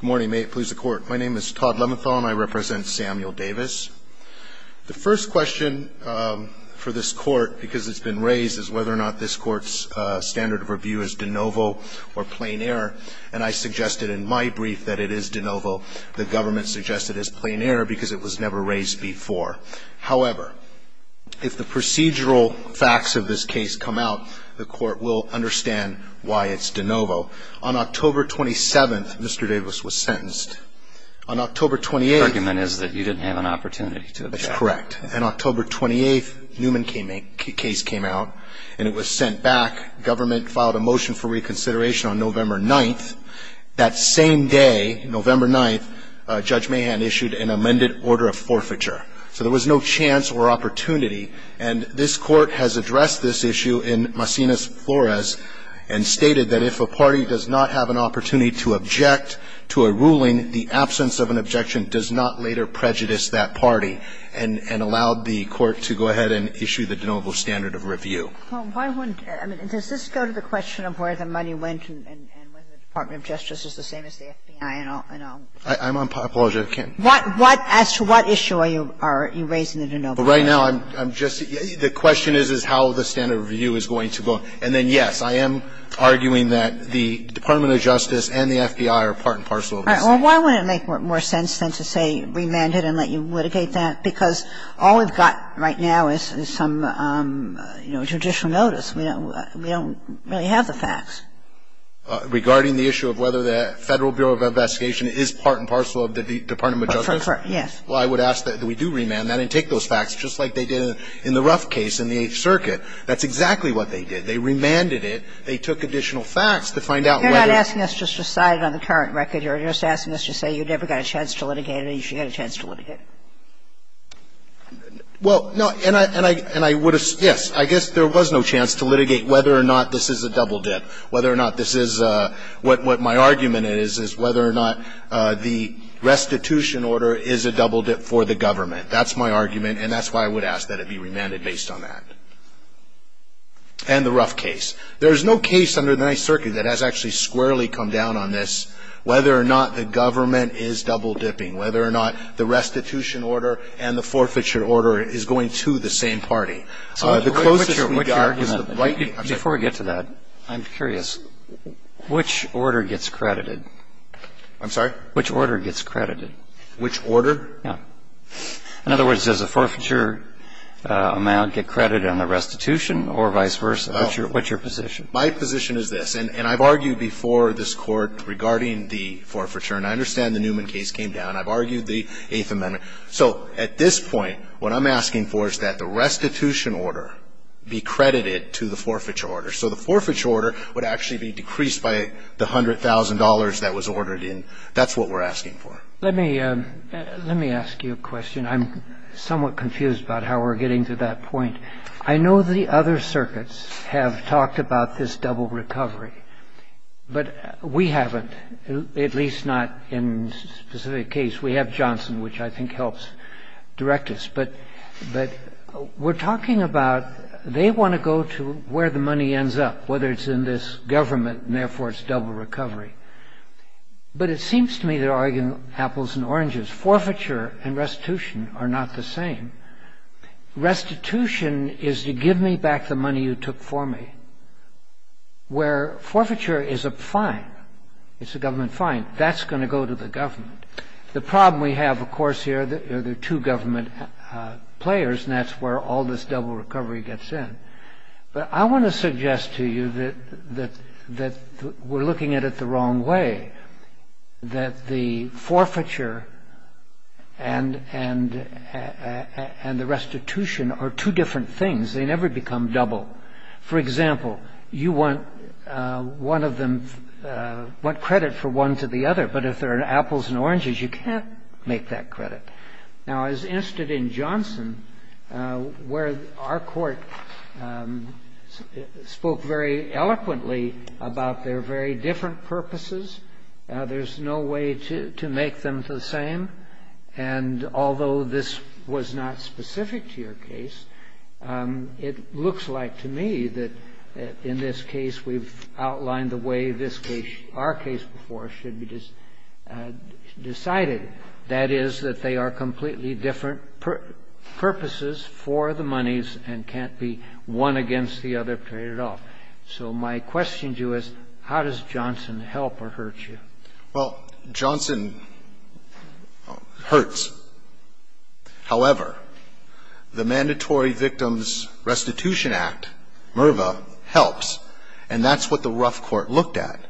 Good morning. May it please the Court. My name is Todd Leventhal and I represent Samuel Davis. The first question for this Court, because it's been raised, is whether or not this Court's standard of review is de novo or plain error. And I suggested in my brief that it is de novo. The government suggested it's plain error because it was never raised before. However, if the procedural facts of this case come out, the Court will understand why it's de novo. On October 27th, Mr. Davis was sentenced. On October 28th The argument is that you didn't have an opportunity to object. That's correct. On October 28th, Newman case came out and it was sent back. Government filed a motion for reconsideration on November 9th. That same day, November 9th, Judge Mahan issued an amended order of forfeiture. So there was no chance or opportunity. And this Court has addressed this issue in Macinus Flores and stated that if a party does not have an opportunity to object to a ruling, the absence of an objection does not later prejudice that party. And allowed the Court to go ahead and issue the de novo standard of review. Well, why wouldn't – I mean, does this go to the question of where the money went and whether the Department of Justice is the same as the FBI and all? I'm on – I apologize, I can't. But right now, I'm just – the question is how the standard of review is going to go. And then, yes, I am arguing that the Department of Justice and the FBI are part and parcel of the same. All right. Well, why wouldn't it make more sense then to say remanded and let you litigate that? Because all we've got right now is some, you know, judicial notice. We don't really have the facts. Regarding the issue of whether the Federal Bureau of Investigation is part and parcel of the Department of Justice? Yes. Well, I would ask that we do remand that and take those facts, just like they did in the Ruff case in the Eighth Circuit. That's exactly what they did. They remanded it. is part and parcel of the Department of Justice. You're not asking us just to cite it on the current record here. You're just asking us to say you never got a chance to litigate it and you should get a chance to litigate it. Well, no. And I would – yes. I guess there was no chance to litigate whether or not this is a double dip, whether or not this is a – what my argument is, is whether or not the restitution order is a double dip for the government. That's my argument, and that's why I would ask that it be remanded based on that and the Ruff case. There is no case under the Ninth Circuit that has actually squarely come down on this, whether or not the government is double dipping, whether or not the restitution order and the forfeiture order is going to the same party. The closest we are is the right – Before we get to that, I'm curious. Which order gets credited? I'm sorry? Which order gets credited? Which order? Yeah. In other words, does the forfeiture amount get credited on the restitution or vice versa? What's your position? My position is this. And I've argued before this Court regarding the forfeiture, and I understand the Newman case came down. I've argued the Eighth Amendment. So at this point, what I'm asking for is that the restitution order be credited to the forfeiture order. So the forfeiture order would actually be decreased by the $100,000 that was ordered in. That's what we're asking for. Let me ask you a question. I'm somewhat confused about how we're getting to that point. I know the other circuits have talked about this double recovery, but we haven't, at least not in this specific case. We have Johnson, which I think helps direct us. But we're talking about they want to go to where the money ends up, whether it's in this government and therefore it's double recovery. But it seems to me they're arguing apples and oranges. Forfeiture and restitution are not the same. Restitution is to give me back the money you took for me. Where forfeiture is a fine, it's a government fine, that's going to go to the government. The problem we have, of course, here are the two government players, and that's where all this double recovery gets in. But I want to suggest to you that we're looking at it the wrong way, that the forfeiture and the restitution are two different things. They never become double. For example, you want credit for one to the other. But if there are apples and oranges, you can't make that credit. Now, as instead in Johnson, where our court spoke very eloquently about their very different purposes, there's no way to make them the same. And although this was not specific to your case, it looks like to me that in this case we've outlined the way this case, our case before, should be decided. That is, that they are completely different purposes for the monies and can't be one against the other period at all. So my question to you is, how does Johnson help or hurt you? Well, Johnson hurts. However, the Mandatory Victims Restitution Act, MRVA, helps. And that's what the Ruff Court looked at.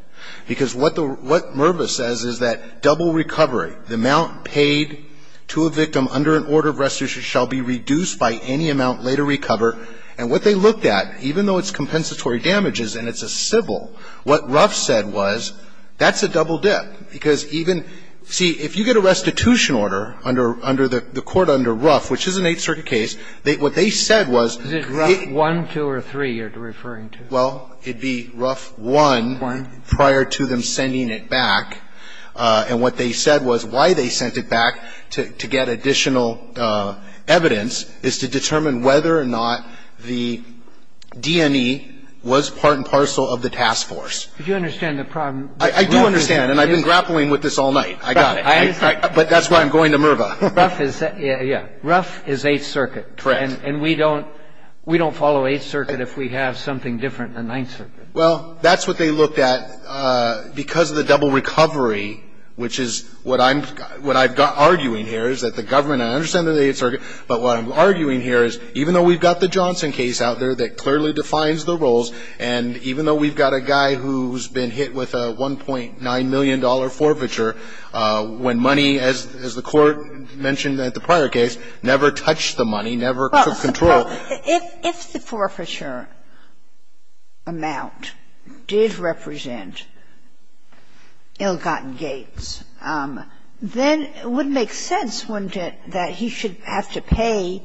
Because what MRVA says is that double recovery, the amount paid to a victim under an order of restitution shall be reduced by any amount later recovered. And what they looked at, even though it's compensatory damages and it's a civil, what Ruff said was, that's a double dip. Because even see, if you get a restitution order under the court under Ruff, which is an Eighth Circuit case, what they said was they Is it Ruff 1, 2, or 3 you're referring to? Well, it'd be Ruff 1 prior to them sending it back. And what they said was why they sent it back to get additional evidence is to determine whether or not the D&E was part and parcel of the task force. Do you understand the problem? I do understand. And I've been grappling with this all night. I got it. But that's why I'm going to MRVA. Ruff is Eighth Circuit. Correct. And we don't follow Eighth Circuit if we have something different than Ninth Circuit. Well, that's what they looked at. Because of the double recovery, which is what I'm arguing here is that the government I understand they're the Eighth Circuit. But what I'm arguing here is even though we've got the Johnson case out there that $1.9 million forfeiture when money, as the Court mentioned at the prior case, never touched the money, never took control. Well, if the forfeiture amount did represent ill-gotten gains, then it would make sense, wouldn't it, that he should have to pay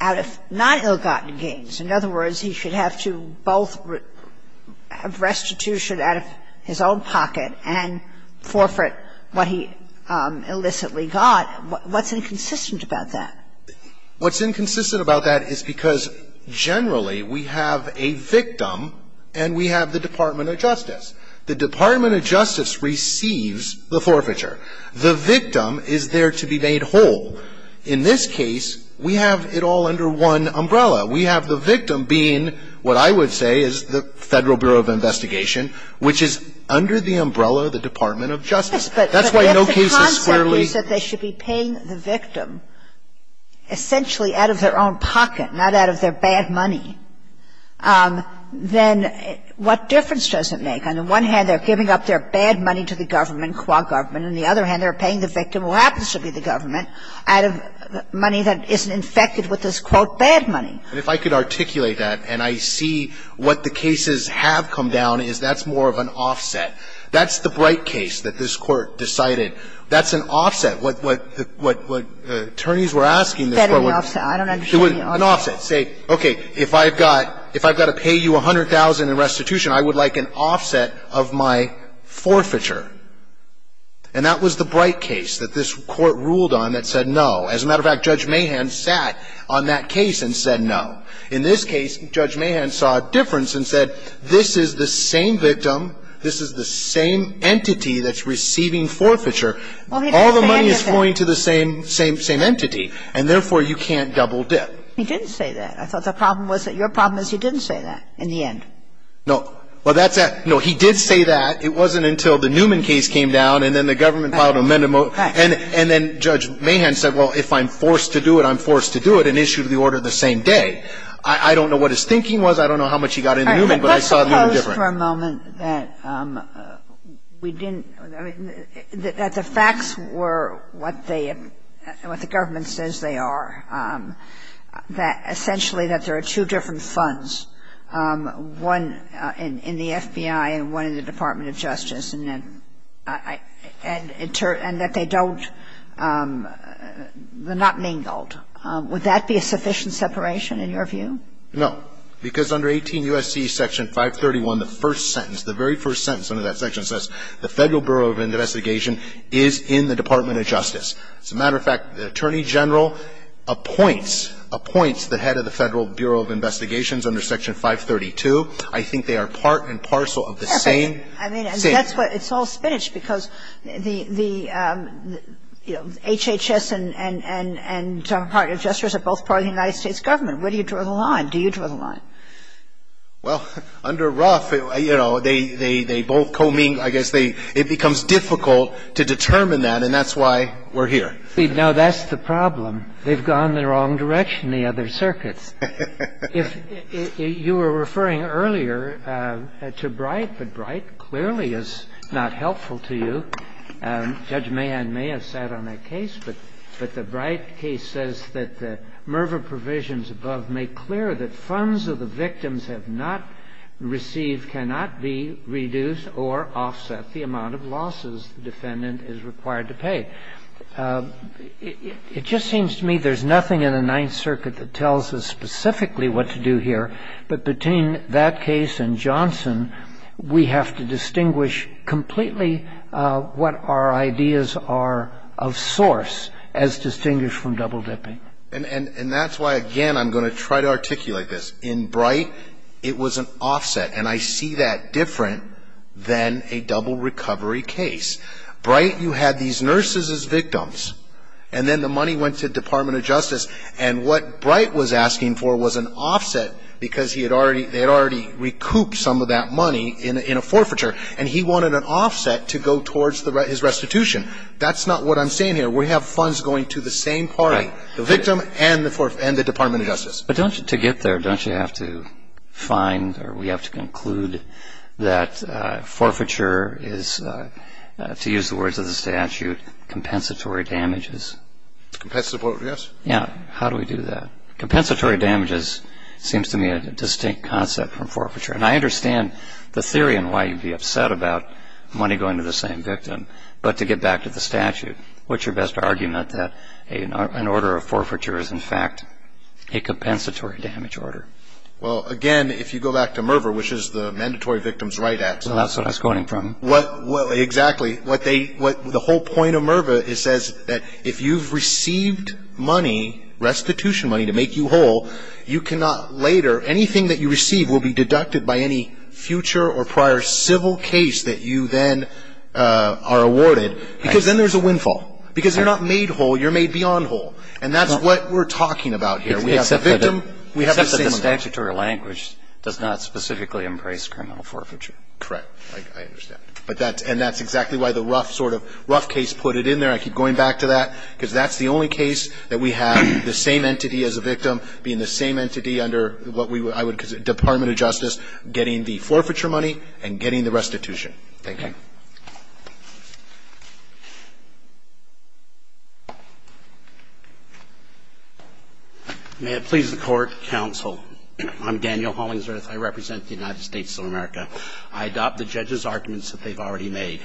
out of non-ill-gotten gains. In other words, he should have to both have restitution out of his own pocket and forfeit what he illicitly got. What's inconsistent about that? What's inconsistent about that is because generally we have a victim and we have the Department of Justice. The Department of Justice receives the forfeiture. The victim is there to be made whole. In this case, we have it all under one umbrella. We have the victim being what I would say is the Federal Bureau of Investigation, which is under the umbrella of the Department of Justice. That's why no case is squarely ---- But if the concept is that they should be paying the victim essentially out of their own pocket, not out of their bad money, then what difference does it make? On the one hand, they're giving up their bad money to the government, qua government. On the other hand, they're paying the victim, who happens to be the government, out of money that isn't infected with this, quote, bad money. And if I could articulate that and I see what the cases have come down is that's more of an offset. That's the Bright case that this Court decided. That's an offset. What attorneys were asking this Court was ---- I don't understand the offset. An offset. Say, okay, if I've got to pay you $100,000 in restitution, I would like an offset of my forfeiture. And that was the Bright case that this Court ruled on that said no. As a matter of fact, Judge Mahan sat on that case and said no. In this case, Judge Mahan saw a difference and said, this is the same victim, this is the same entity that's receiving forfeiture. All the money is flowing to the same entity, and therefore you can't double dip. He didn't say that. I thought the problem was that your problem is he didn't say that in the end. No. Well, that's that. No, he did say that. It wasn't until the Newman case came down and then the government filed an amendment. And then Judge Mahan said, well, if I'm forced to do it, I'm forced to do it, and issued the order the same day. I don't know what his thinking was. I don't know how much he got into Newman, but I saw it a little different. Let's suppose for a moment that we didn't ---- that the facts were what they ---- what the government says they are, that essentially that there are two different funds, one in the FBI and one in the Department of Justice, and that they don't ---- they're not mingled. Would that be a sufficient separation in your view? No. Because under 18 U.S.C. Section 531, the first sentence, the very first sentence under that section says the Federal Bureau of Investigation is in the Department of Justice. As a matter of fact, the Attorney General appoints, appoints the head of the Federal Bureau of Investigations under Section 532. I think they are part and parcel of the same ---- I mean, that's what ---- it's all spinach because the HHS and Department of Justice are both part of the United States government. Where do you draw the line? Do you draw the line? Well, under Ruff, you know, they both co-mingle. I guess they ---- it becomes difficult to determine that, and that's why we're here. No, that's the problem. They've gone the wrong direction, the other circuits. If you were referring earlier to Bright, but Bright clearly is not helpful to you. Judge Mahan may have sat on that case, but the Bright case says that the MRVA provisions above make clear that funds of the victims have not received, cannot be reduced or offset the amount of losses the defendant is required to pay. It just seems to me there's nothing in the Ninth Circuit that tells us specifically what to do here, but between that case and Johnson, we have to distinguish completely what our ideas are of source as distinguished from double dipping. And that's why, again, I'm going to try to articulate this. In Bright, it was an offset, and I see that different than a double recovery case. Bright, you had these nurses as victims, and then the money went to the Department of Justice, and what Bright was asking for was an offset because they had already recouped some of that money in a forfeiture, and he wanted an offset to go towards his restitution. That's not what I'm saying here. We have funds going to the same party, the victim and the Department of Justice. But to get there, don't you have to find or we have to conclude that forfeiture is, to use the words of the statute, compensatory damages? Compensatory, yes. Yeah. How do we do that? Compensatory damages seems to me a distinct concept from forfeiture, and I understand the theory and why you'd be upset about money going to the same victim, but to get back to the statute, what's your best argument that an order of forfeiture is, in fact, a compensatory damage order? Well, again, if you go back to MRVA, which is the Mandatory Victims' Right Act. Well, that's what I was quoting from. Exactly. The whole point of MRVA is that if you've received money, restitution money to make you whole, you cannot later, anything that you receive will be deducted by any future or prior civil case that you then are awarded because then there's a windfall. Because you're not made whole, you're made beyond whole. And that's what we're talking about here. Except that the statutory language does not specifically embrace criminal forfeiture. Correct. I understand. And that's exactly why the rough sort of rough case put it in there. I keep going back to that, because that's the only case that we have the same entity as a victim being the same entity under what I would consider the Department of Justice getting the forfeiture money and getting the restitution. Thank you. May it please the Court, counsel. I'm Daniel Hollingsworth. I represent the United States of America. I adopt the judge's arguments that they've already made.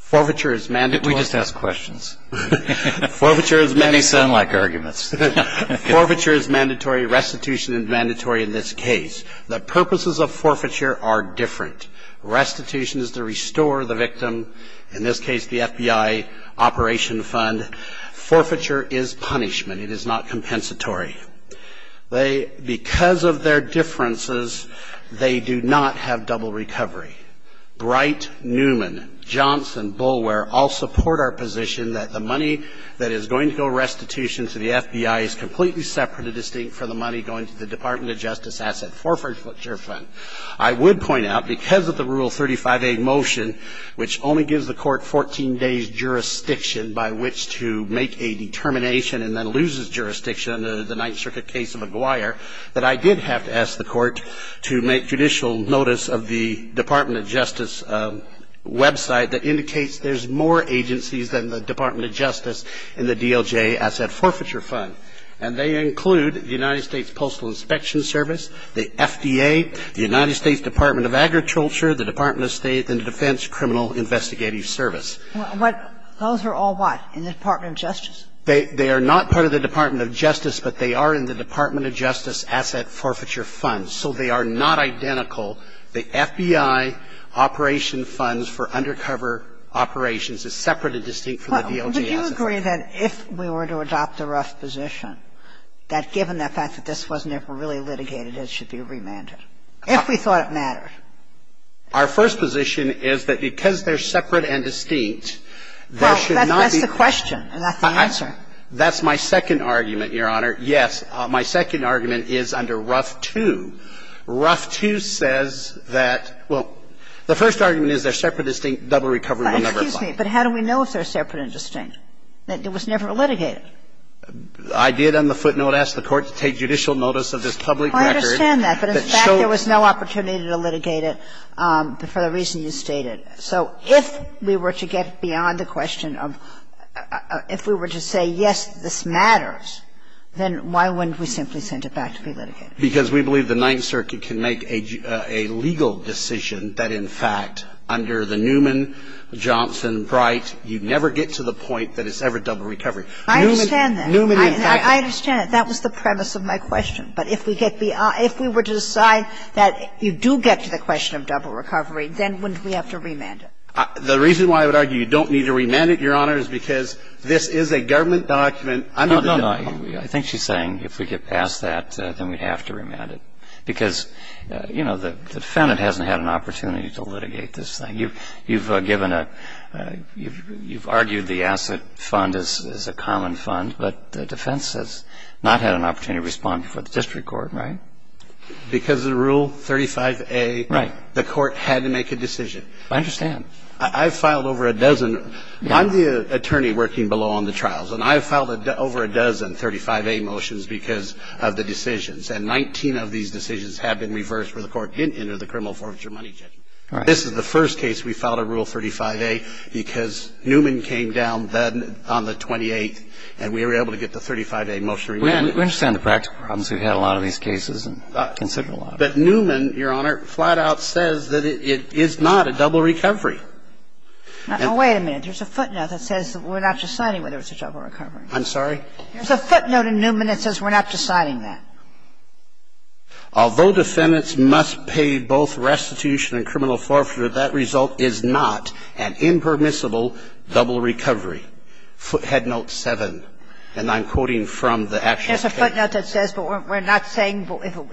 Forfeiture is mandatory. Didn't we just ask questions? Forfeiture is mandatory. They sound like arguments. Forfeiture is mandatory. Restitution is mandatory in this case. The purposes of forfeiture are different. Restitution is the restitution of a crime. In this case, the FBI operation fund. Forfeiture is punishment. It is not compensatory. Because of their differences, they do not have double recovery. Bright, Newman, Johnson, Bullware all support our position that the money that is going to go restitution to the FBI is completely separate and distinct from the money going to the Department of Justice asset forfeiture fund. I would point out, because of the Rule 35A motion, which only gives the court 14 days jurisdiction by which to make a determination and then loses jurisdiction under the Ninth Circuit case of McGuire, that I did have to ask the court to make judicial notice of the Department of Justice website that indicates there's more agencies than the Department of Justice in the DOJ asset forfeiture fund. And they include the United States Postal Inspection Service, the FDA, the United States Department of Agriculture, the Department of State, and the Defense Criminal Investigative Service. Those are all what, in the Department of Justice? They are not part of the Department of Justice, but they are in the Department of Justice asset forfeiture fund. So they are not identical. forfeiture fund. asset forfeiture fund. Sotomayor We agree that if we were to adopt the RUF position, that given the fact that this wasn't ever really litigated, it should be remanded, if we thought it mattered. Verrilli, Jr. Our first position is that because they're separate and distinct, there should not be any question. That it was never litigated. Verrilli, Jr. I did on the footnote ask the Court to take judicial notice of this public record. Kagan I understand that, but in fact there was no opportunity to litigate it for the reason you stated. So if we were to get beyond the question of if we were to say, yes, this matters, then why wouldn't we simply send it back to be litigated? Verrilli, Jr. Because we believe the Ninth Circuit can make a legal decision that, in fact, under the Newman, Johnson, Bright, you never get to the point that it's ever double recovery. Kagan I understand that. Verrilli, Jr. Newman, in fact, that was the premise of my question. But if we were to decide that you do get to the question of double recovery, then wouldn't we have to remand it? Verrilli, Jr. The reason why I would argue you don't need to remand it, Your Honor, is because this is a government document under the document. Kennedy I think she's saying if we get past that, then we'd have to remand it, because, you know, the defendant hasn't had an opportunity to litigate this thing. You've given a you've argued the asset fund is a common fund, but the defense has not had an opportunity to respond before the district court, right? Verrilli, Jr. Because of Rule 35A, the court had to make a decision. Kennedy I understand. Verrilli, Jr. I've filed over a dozen. I'm the attorney working below on the trials, and I've filed over a dozen 35A motions because of the decisions, and 19 of these decisions have been reversed where the court didn't enter the criminal forfeiture money judgment. Verrilli, Jr. This is the first case we filed a Rule 35A because Newman came down then on the 28th, and we were able to get the 35A motion removed. Kennedy We understand the practical problems we've had in a lot of these cases and consider a lot of them. Verrilli, Jr. But Newman, Your Honor, flat out says that it is not a double recovery. Kagan Wait a minute. There's a footnote that says we're not just signing whether it's a double recovery. Verrilli, Jr. I'm sorry? Kagan Wait a minute. There's a footnote in Newman that says we're not just signing that. Verrilli, Jr. Although defendants must pay both restitution and criminal forfeiture, that result is not an impermissible double recovery. Footnote 7, and I'm quoting from the actual case. Kagan Wait a minute. There's a footnote that says, but we're not saying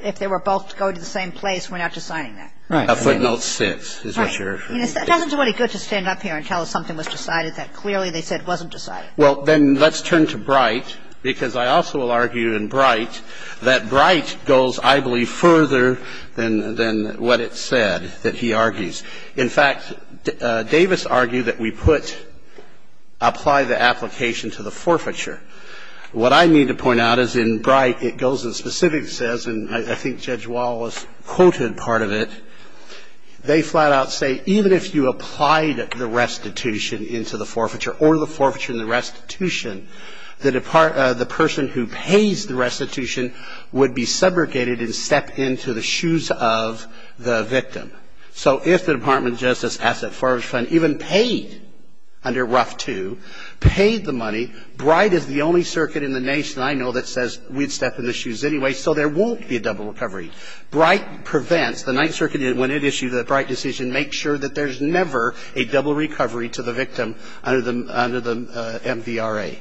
if they were both going to the same place, we're not just signing that. Verrilli, Jr. Right. Verrilli, Jr. A footnote 6 is what you're saying. Kagan Wait a minute. It doesn't do any good to stand up here and tell us something was decided that clearly they said wasn't decided. Verrilli, Jr. Well, then let's turn to Bright, because I also will argue in Bright that Bright goes, I believe, further than what it said that he argues. In fact, Davis argued that we put, apply the application to the forfeiture. What I need to point out is in Bright it goes and specifically says, and I think Judge Wall was quoted part of it, they flat out say even if you applied the restitution into the forfeiture or the forfeiture and the restitution, the person who pays the restitution would be subrogated and step into the shoes of the victim. So if the Department of Justice Asset Forfeiture Fund even paid under RUF II, paid the money, Bright is the only circuit in the nation I know that says we'd step in the shoes anyway, so there won't be a double recovery. Bright prevents, the Ninth Circuit when it issued the Bright decision makes sure that there's never a double recovery to the victim under the MVRA,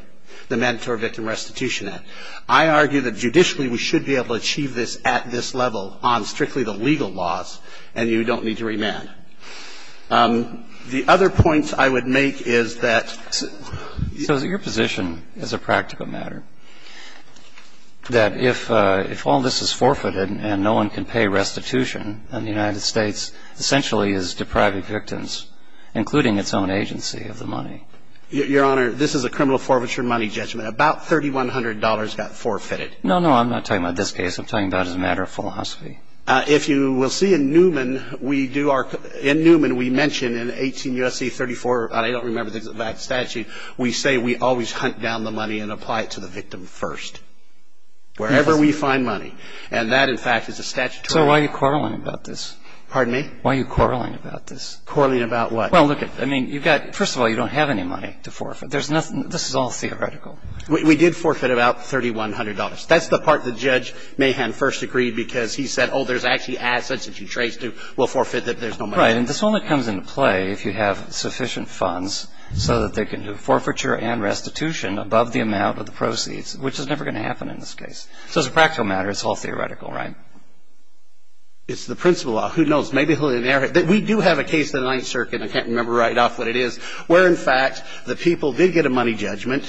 the Mandatory Victim Restitution Act. I argue that judicially we should be able to achieve this at this level on strictly the legal laws, and you don't need to remand. The other point I would make is that your position as a practical matter that if all this is forfeited and no one can pay restitution and the United States essentially is depriving victims, including its own agency, of the money. Your Honor, this is a criminal forfeiture money judgment. About $3,100 got forfeited. No, no, I'm not talking about this case. I'm talking about as a matter of philosophy. If you will see in Newman, we do our – in Newman we mention in 18 U.S.C. 34 – I don't remember the statute – we say we always hunt down the money and apply it to the victim first, wherever we find money. And that, in fact, is a statutory – So why are you quarreling about this? Pardon me? Why are you quarreling about this? Quarreling about what? Well, look, I mean, you've got – first of all, you don't have any money to forfeit. There's nothing – this is all theoretical. We did forfeit about $3,100. That's the part that Judge Mahan first agreed because he said, oh, there's actually assets that you trace to. We'll forfeit that. There's no money. Right. And this only comes into play if you have sufficient funds so that they can do forfeiture and restitution above the amount of the proceeds, which is never going to happen in this case. So as a practical matter, it's all theoretical, right? It's the principle law. Who knows? Maybe we'll inherit – we do have a case in the Ninth Circuit – I can't remember right off what it is – where, in fact, the people did get a money judgment,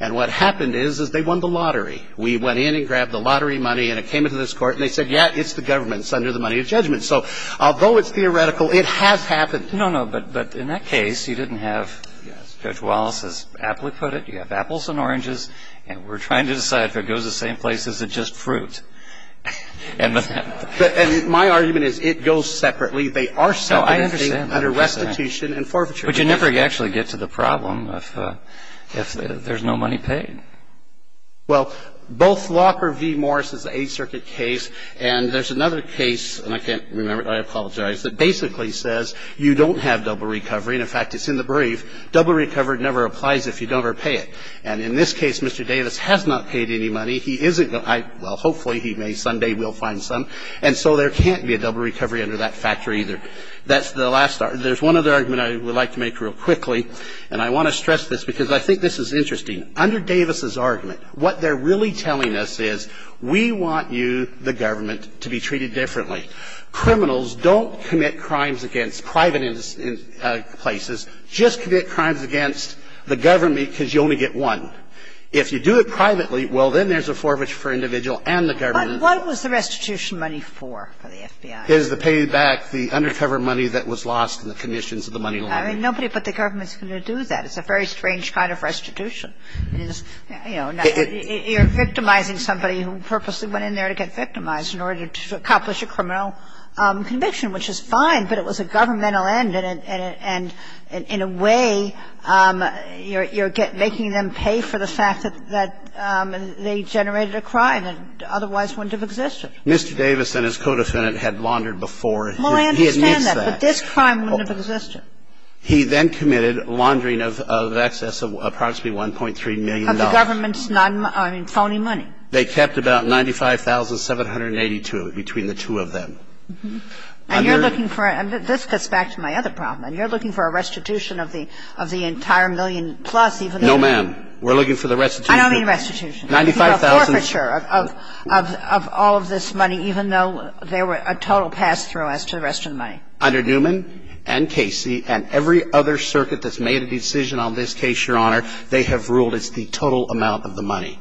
and what happened is, is they won the lottery. We went in and grabbed the lottery money, and it came into this Court, and they said, yeah, it's the government. It's under the money of judgment. So although it's theoretical, it has happened. No, no. But in that case, you didn't have – as Judge Wallace has aptly put it, you have apples and oranges, and we're trying to decide if it goes the same place as just fruit. And my argument is it goes separately. They are separate under restitution and forfeiture. But you never actually get to the problem if there's no money paid. Well, both Locker v. Morris is an Eighth Circuit case, and there's another case – and I can't remember, I apologize – that basically says you don't have double recovery. And, in fact, it's in the brief. Double recovery never applies if you don't ever pay it. And in this case, Mr. Davis has not paid any money. He isn't – well, hopefully he may someday will find some. And so there can't be a double recovery under that factor either. That's the last – there's one other argument I would like to make real quickly, and I want to stress this because I think this is interesting. Under Davis's argument, what they're really telling us is we want you, the government, to be treated differently. Criminals don't commit crimes against private places. Just commit crimes against the government because you only get one. If you do it privately, well, then there's a forfeiture for individual and the government. But what was the restitution money for, for the FBI? It was the paid back, the undercover money that was lost in the conditions of the money laundering. I mean, nobody but the government is going to do that. It's a very strange kind of restitution. It is, you know, you're victimizing somebody who purposely went in there to get victimized in order to accomplish a criminal conviction, which is fine, but it was a governmental And in a way, you're making them pay for the fact that they generated a crime that otherwise wouldn't have existed. Mr. Davis and his co-defendant had laundered before. Well, I understand that, but this crime wouldn't have existed. He then committed laundering of excess of approximately $1.3 million. Of the government's phony money. They kept about $95,782 between the two of them. And you're looking for, and this gets back to my other problem, and you're looking for a restitution of the entire million plus even though. No, ma'am. We're looking for the restitution. I don't mean restitution. $95,000. A forfeiture of all of this money even though there were a total pass-through as to the rest of the money. Under Newman and Casey and every other circuit that's made a decision on this case, Your Honor, they have ruled it's the total amount of the money.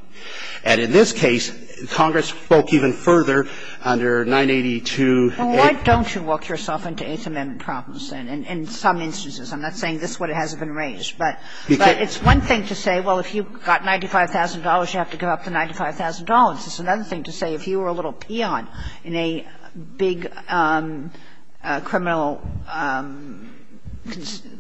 And in this case, Congress spoke even further under 982A. Well, why don't you walk yourself into Eighth Amendment problems then? In some instances. I'm not saying this is what has been raised. But it's one thing to say, well, if you've got $95,000, you have to give up the $95,000. It's another thing to say if you were a little peon in a big criminal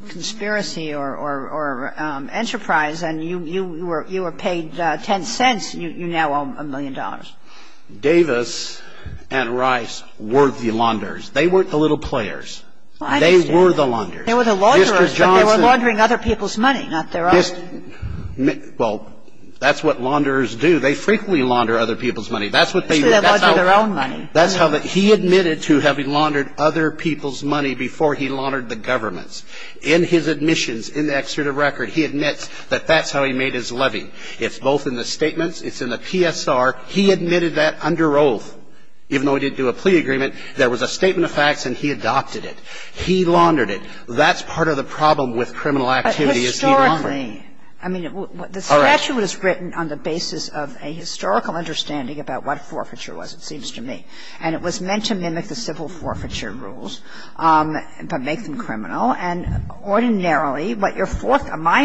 conspiracy or enterprise and you were paid 10 cents, you now owe a million dollars. Davis and Rice were the launderers. They weren't the little players. They were the launderers. They were the launderers, but they were laundering other people's money, not their own. Well, that's what launderers do. They frequently launder other people's money. That's what they do. They launder their own money. That's how they do it. He admitted to having laundered other people's money before he laundered the government's. In his admissions, in the excerpt of record, he admits that that's how he made his levy. It's both in the statements, it's in the PSR. He admitted that under oath. Even though he didn't do a plea agreement, there was a statement of facts and he adopted it. He laundered it. That's part of the problem with criminal activity is he laundered it. Historically, I mean, the statute is written on the basis of a historical understanding about what forfeiture was, it seems to me. And it was meant to mimic the civil forfeiture rules, but make them criminal. And ordinarily, my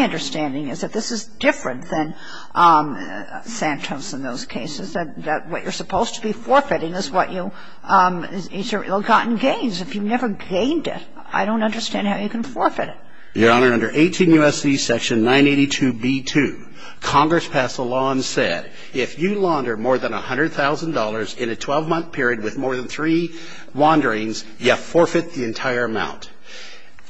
understanding is that this is different than Santos in those cases, that what you're supposed to be forfeiting is your ill-gotten gains. If you never gained it, I don't understand how you can forfeit it. Your Honor, under 18 U.S.C. section 982b2, Congress passed a law and said, if you launder more than $100,000 in a 12-month period with more than three launderings, you forfeit the entire amount.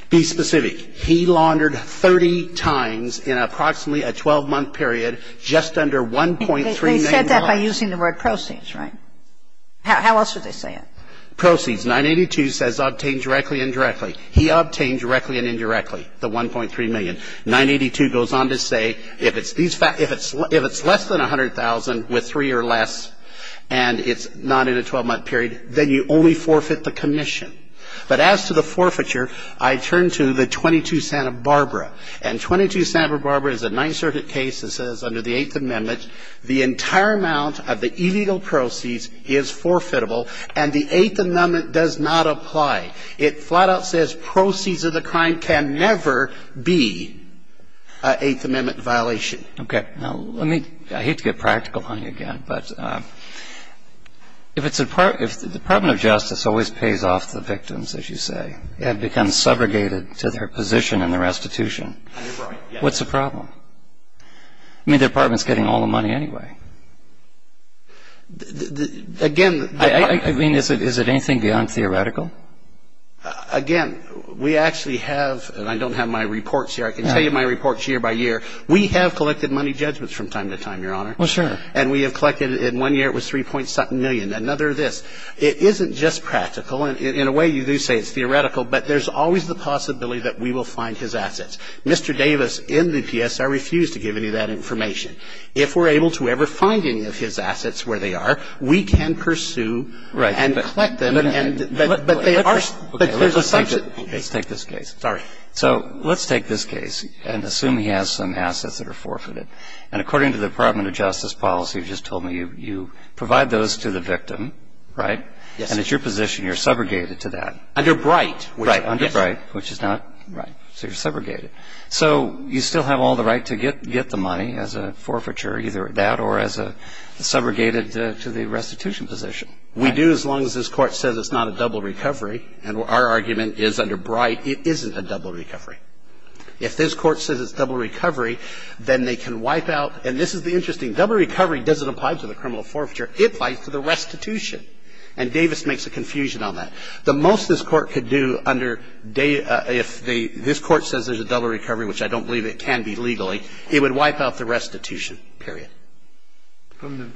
Be specific. He laundered 30 times in approximately a 12-month period just under $1.3 million. They said that by using the word proceeds, right? How else would they say it? Proceeds. 982 says obtained directly and indirectly. He obtained directly and indirectly the $1.3 million. 982 goes on to say if it's less than $100,000 with three or less and it's not in a 12-month period, then you only forfeit the commission. But as to the forfeiture, I turn to the 22 Santa Barbara. And 22 Santa Barbara is a Ninth Circuit case that says under the Eighth Amendment the entire amount of the illegal proceeds is forfeitable and the Eighth Amendment does not apply. It flat-out says proceeds of the crime can never be an Eighth Amendment violation. Okay. Now, I mean, I hate to get practical on you again, but if the Department of Justice always pays off the victims, as you say, and becomes segregated to their position in the restitution, what's the problem? I mean, the Department is getting all the money anyway. Again, I mean, is it anything beyond theoretical? Again, we actually have, and I don't have my reports here. I can tell you my reports year by year. We have collected money judgments from time to time, Your Honor. Well, sure. And we have collected in one year it was 3.7 million, another this. It isn't just practical. In a way, you do say it's theoretical, but there's always the possibility that we will find his assets. Mr. Davis in the PSR refused to give any of that information. If we're able to ever find any of his assets where they are, we can pursue and collect them. But there's a subset. Let's take this case. Sorry. So let's take this case and assume he has some assets that are forfeited. And according to the Department of Justice policy, you just told me you provide those to the victim, right? Yes. And it's your position you're segregated to that. Under Bright. Right. Under Bright, which is not. Right. So you're segregated. So you still have all the right to get the money as a forfeiture, either that or as a segregated to the restitution position. We do as long as this Court says it's not a double recovery. And our argument is under Bright it isn't a double recovery. If this Court says it's a double recovery, then they can wipe out. And this is the interesting. Double recovery doesn't apply to the criminal forfeiture. It applies to the restitution. And Davis makes a confusion on that. The most this Court could do under if this Court says there's a double recovery, which I don't believe it can be legally, it would wipe out the restitution, period.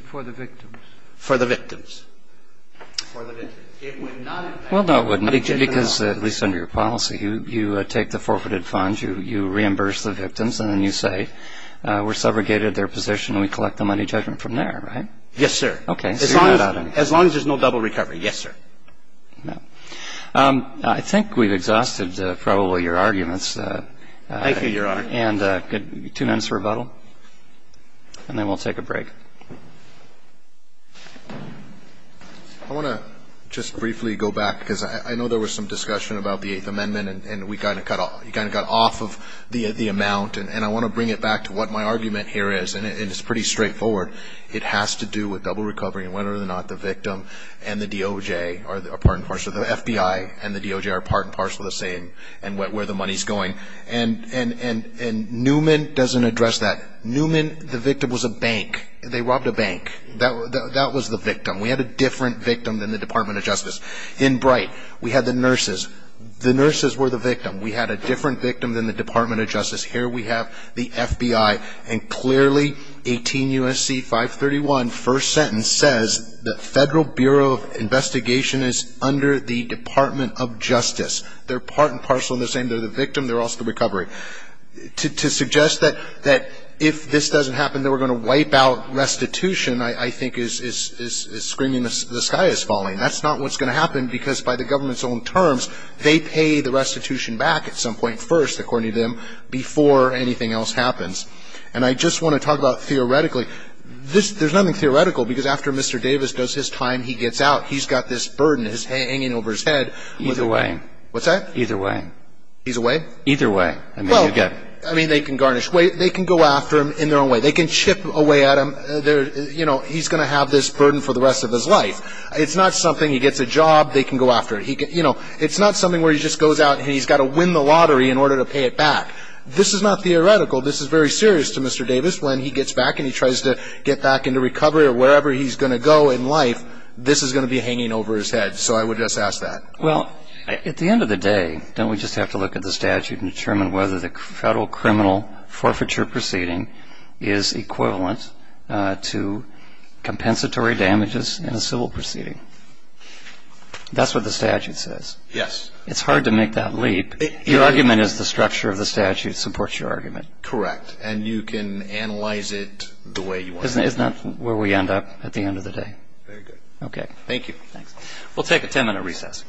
For the victims. For the victims. For the victims. It would not. Well, no, it wouldn't. Because at least under your policy, you take the forfeited funds, you reimburse the victims, and then you say we're segregated their position and we collect the money judgment from there, right? Yes, sir. Okay. As long as there's no double recovery, yes, sir. Now, I think we've exhausted probably your arguments. Thank you, Your Honor. And two minutes rebuttal, and then we'll take a break. I want to just briefly go back, because I know there was some discussion about the Eighth Amendment, and we kind of got off of the amount, and I want to bring it back to what my argument here is, and it's pretty straightforward. It has to do with double recovery, and whether or not the victim and the DOJ are part and parcel, the FBI and the DOJ are part and parcel the same, and where the money's going. Newman, the victim, was a bank. They robbed a bank. That was the victim. We had a different victim than the Department of Justice. In Bright, we had the nurses. The nurses were the victim. We had a different victim than the Department of Justice. Here we have the FBI, and clearly 18 U.S.C. 531, first sentence, says the Federal Bureau of Investigation is under the Department of Justice. They're part and parcel the same. They're the victim. They're also the recovery. To suggest that if this doesn't happen, that we're going to wipe out restitution, I think is screaming, the sky is falling. That's not what's going to happen, because by the government's own terms, they pay the restitution back at some point first, according to them, before anything else happens. And I just want to talk about theoretically. There's nothing theoretical, because after Mr. Davis does his time, he gets out. He's got this burden hanging over his head. Either way. What's that? Either way. He's away? Either way. Well, I mean, they can garnish. They can go after him in their own way. They can chip away at him. You know, he's going to have this burden for the rest of his life. It's not something he gets a job, they can go after him. You know, it's not something where he just goes out and he's got to win the lottery in order to pay it back. This is not theoretical. This is very serious to Mr. Davis. When he gets back and he tries to get back into recovery or wherever he's going to go in life, this is going to be hanging over his head. So I would just ask that. Well, at the end of the day, don't we just have to look at the statute and determine whether the federal criminal forfeiture proceeding is equivalent to compensatory damages in a civil proceeding? That's what the statute says. Yes. It's hard to make that leap. Your argument is the structure of the statute supports your argument. Correct. And you can analyze it the way you want to. Isn't that where we end up at the end of the day? Very good. Okay. Thank you. Thanks. We'll take a ten-minute recess.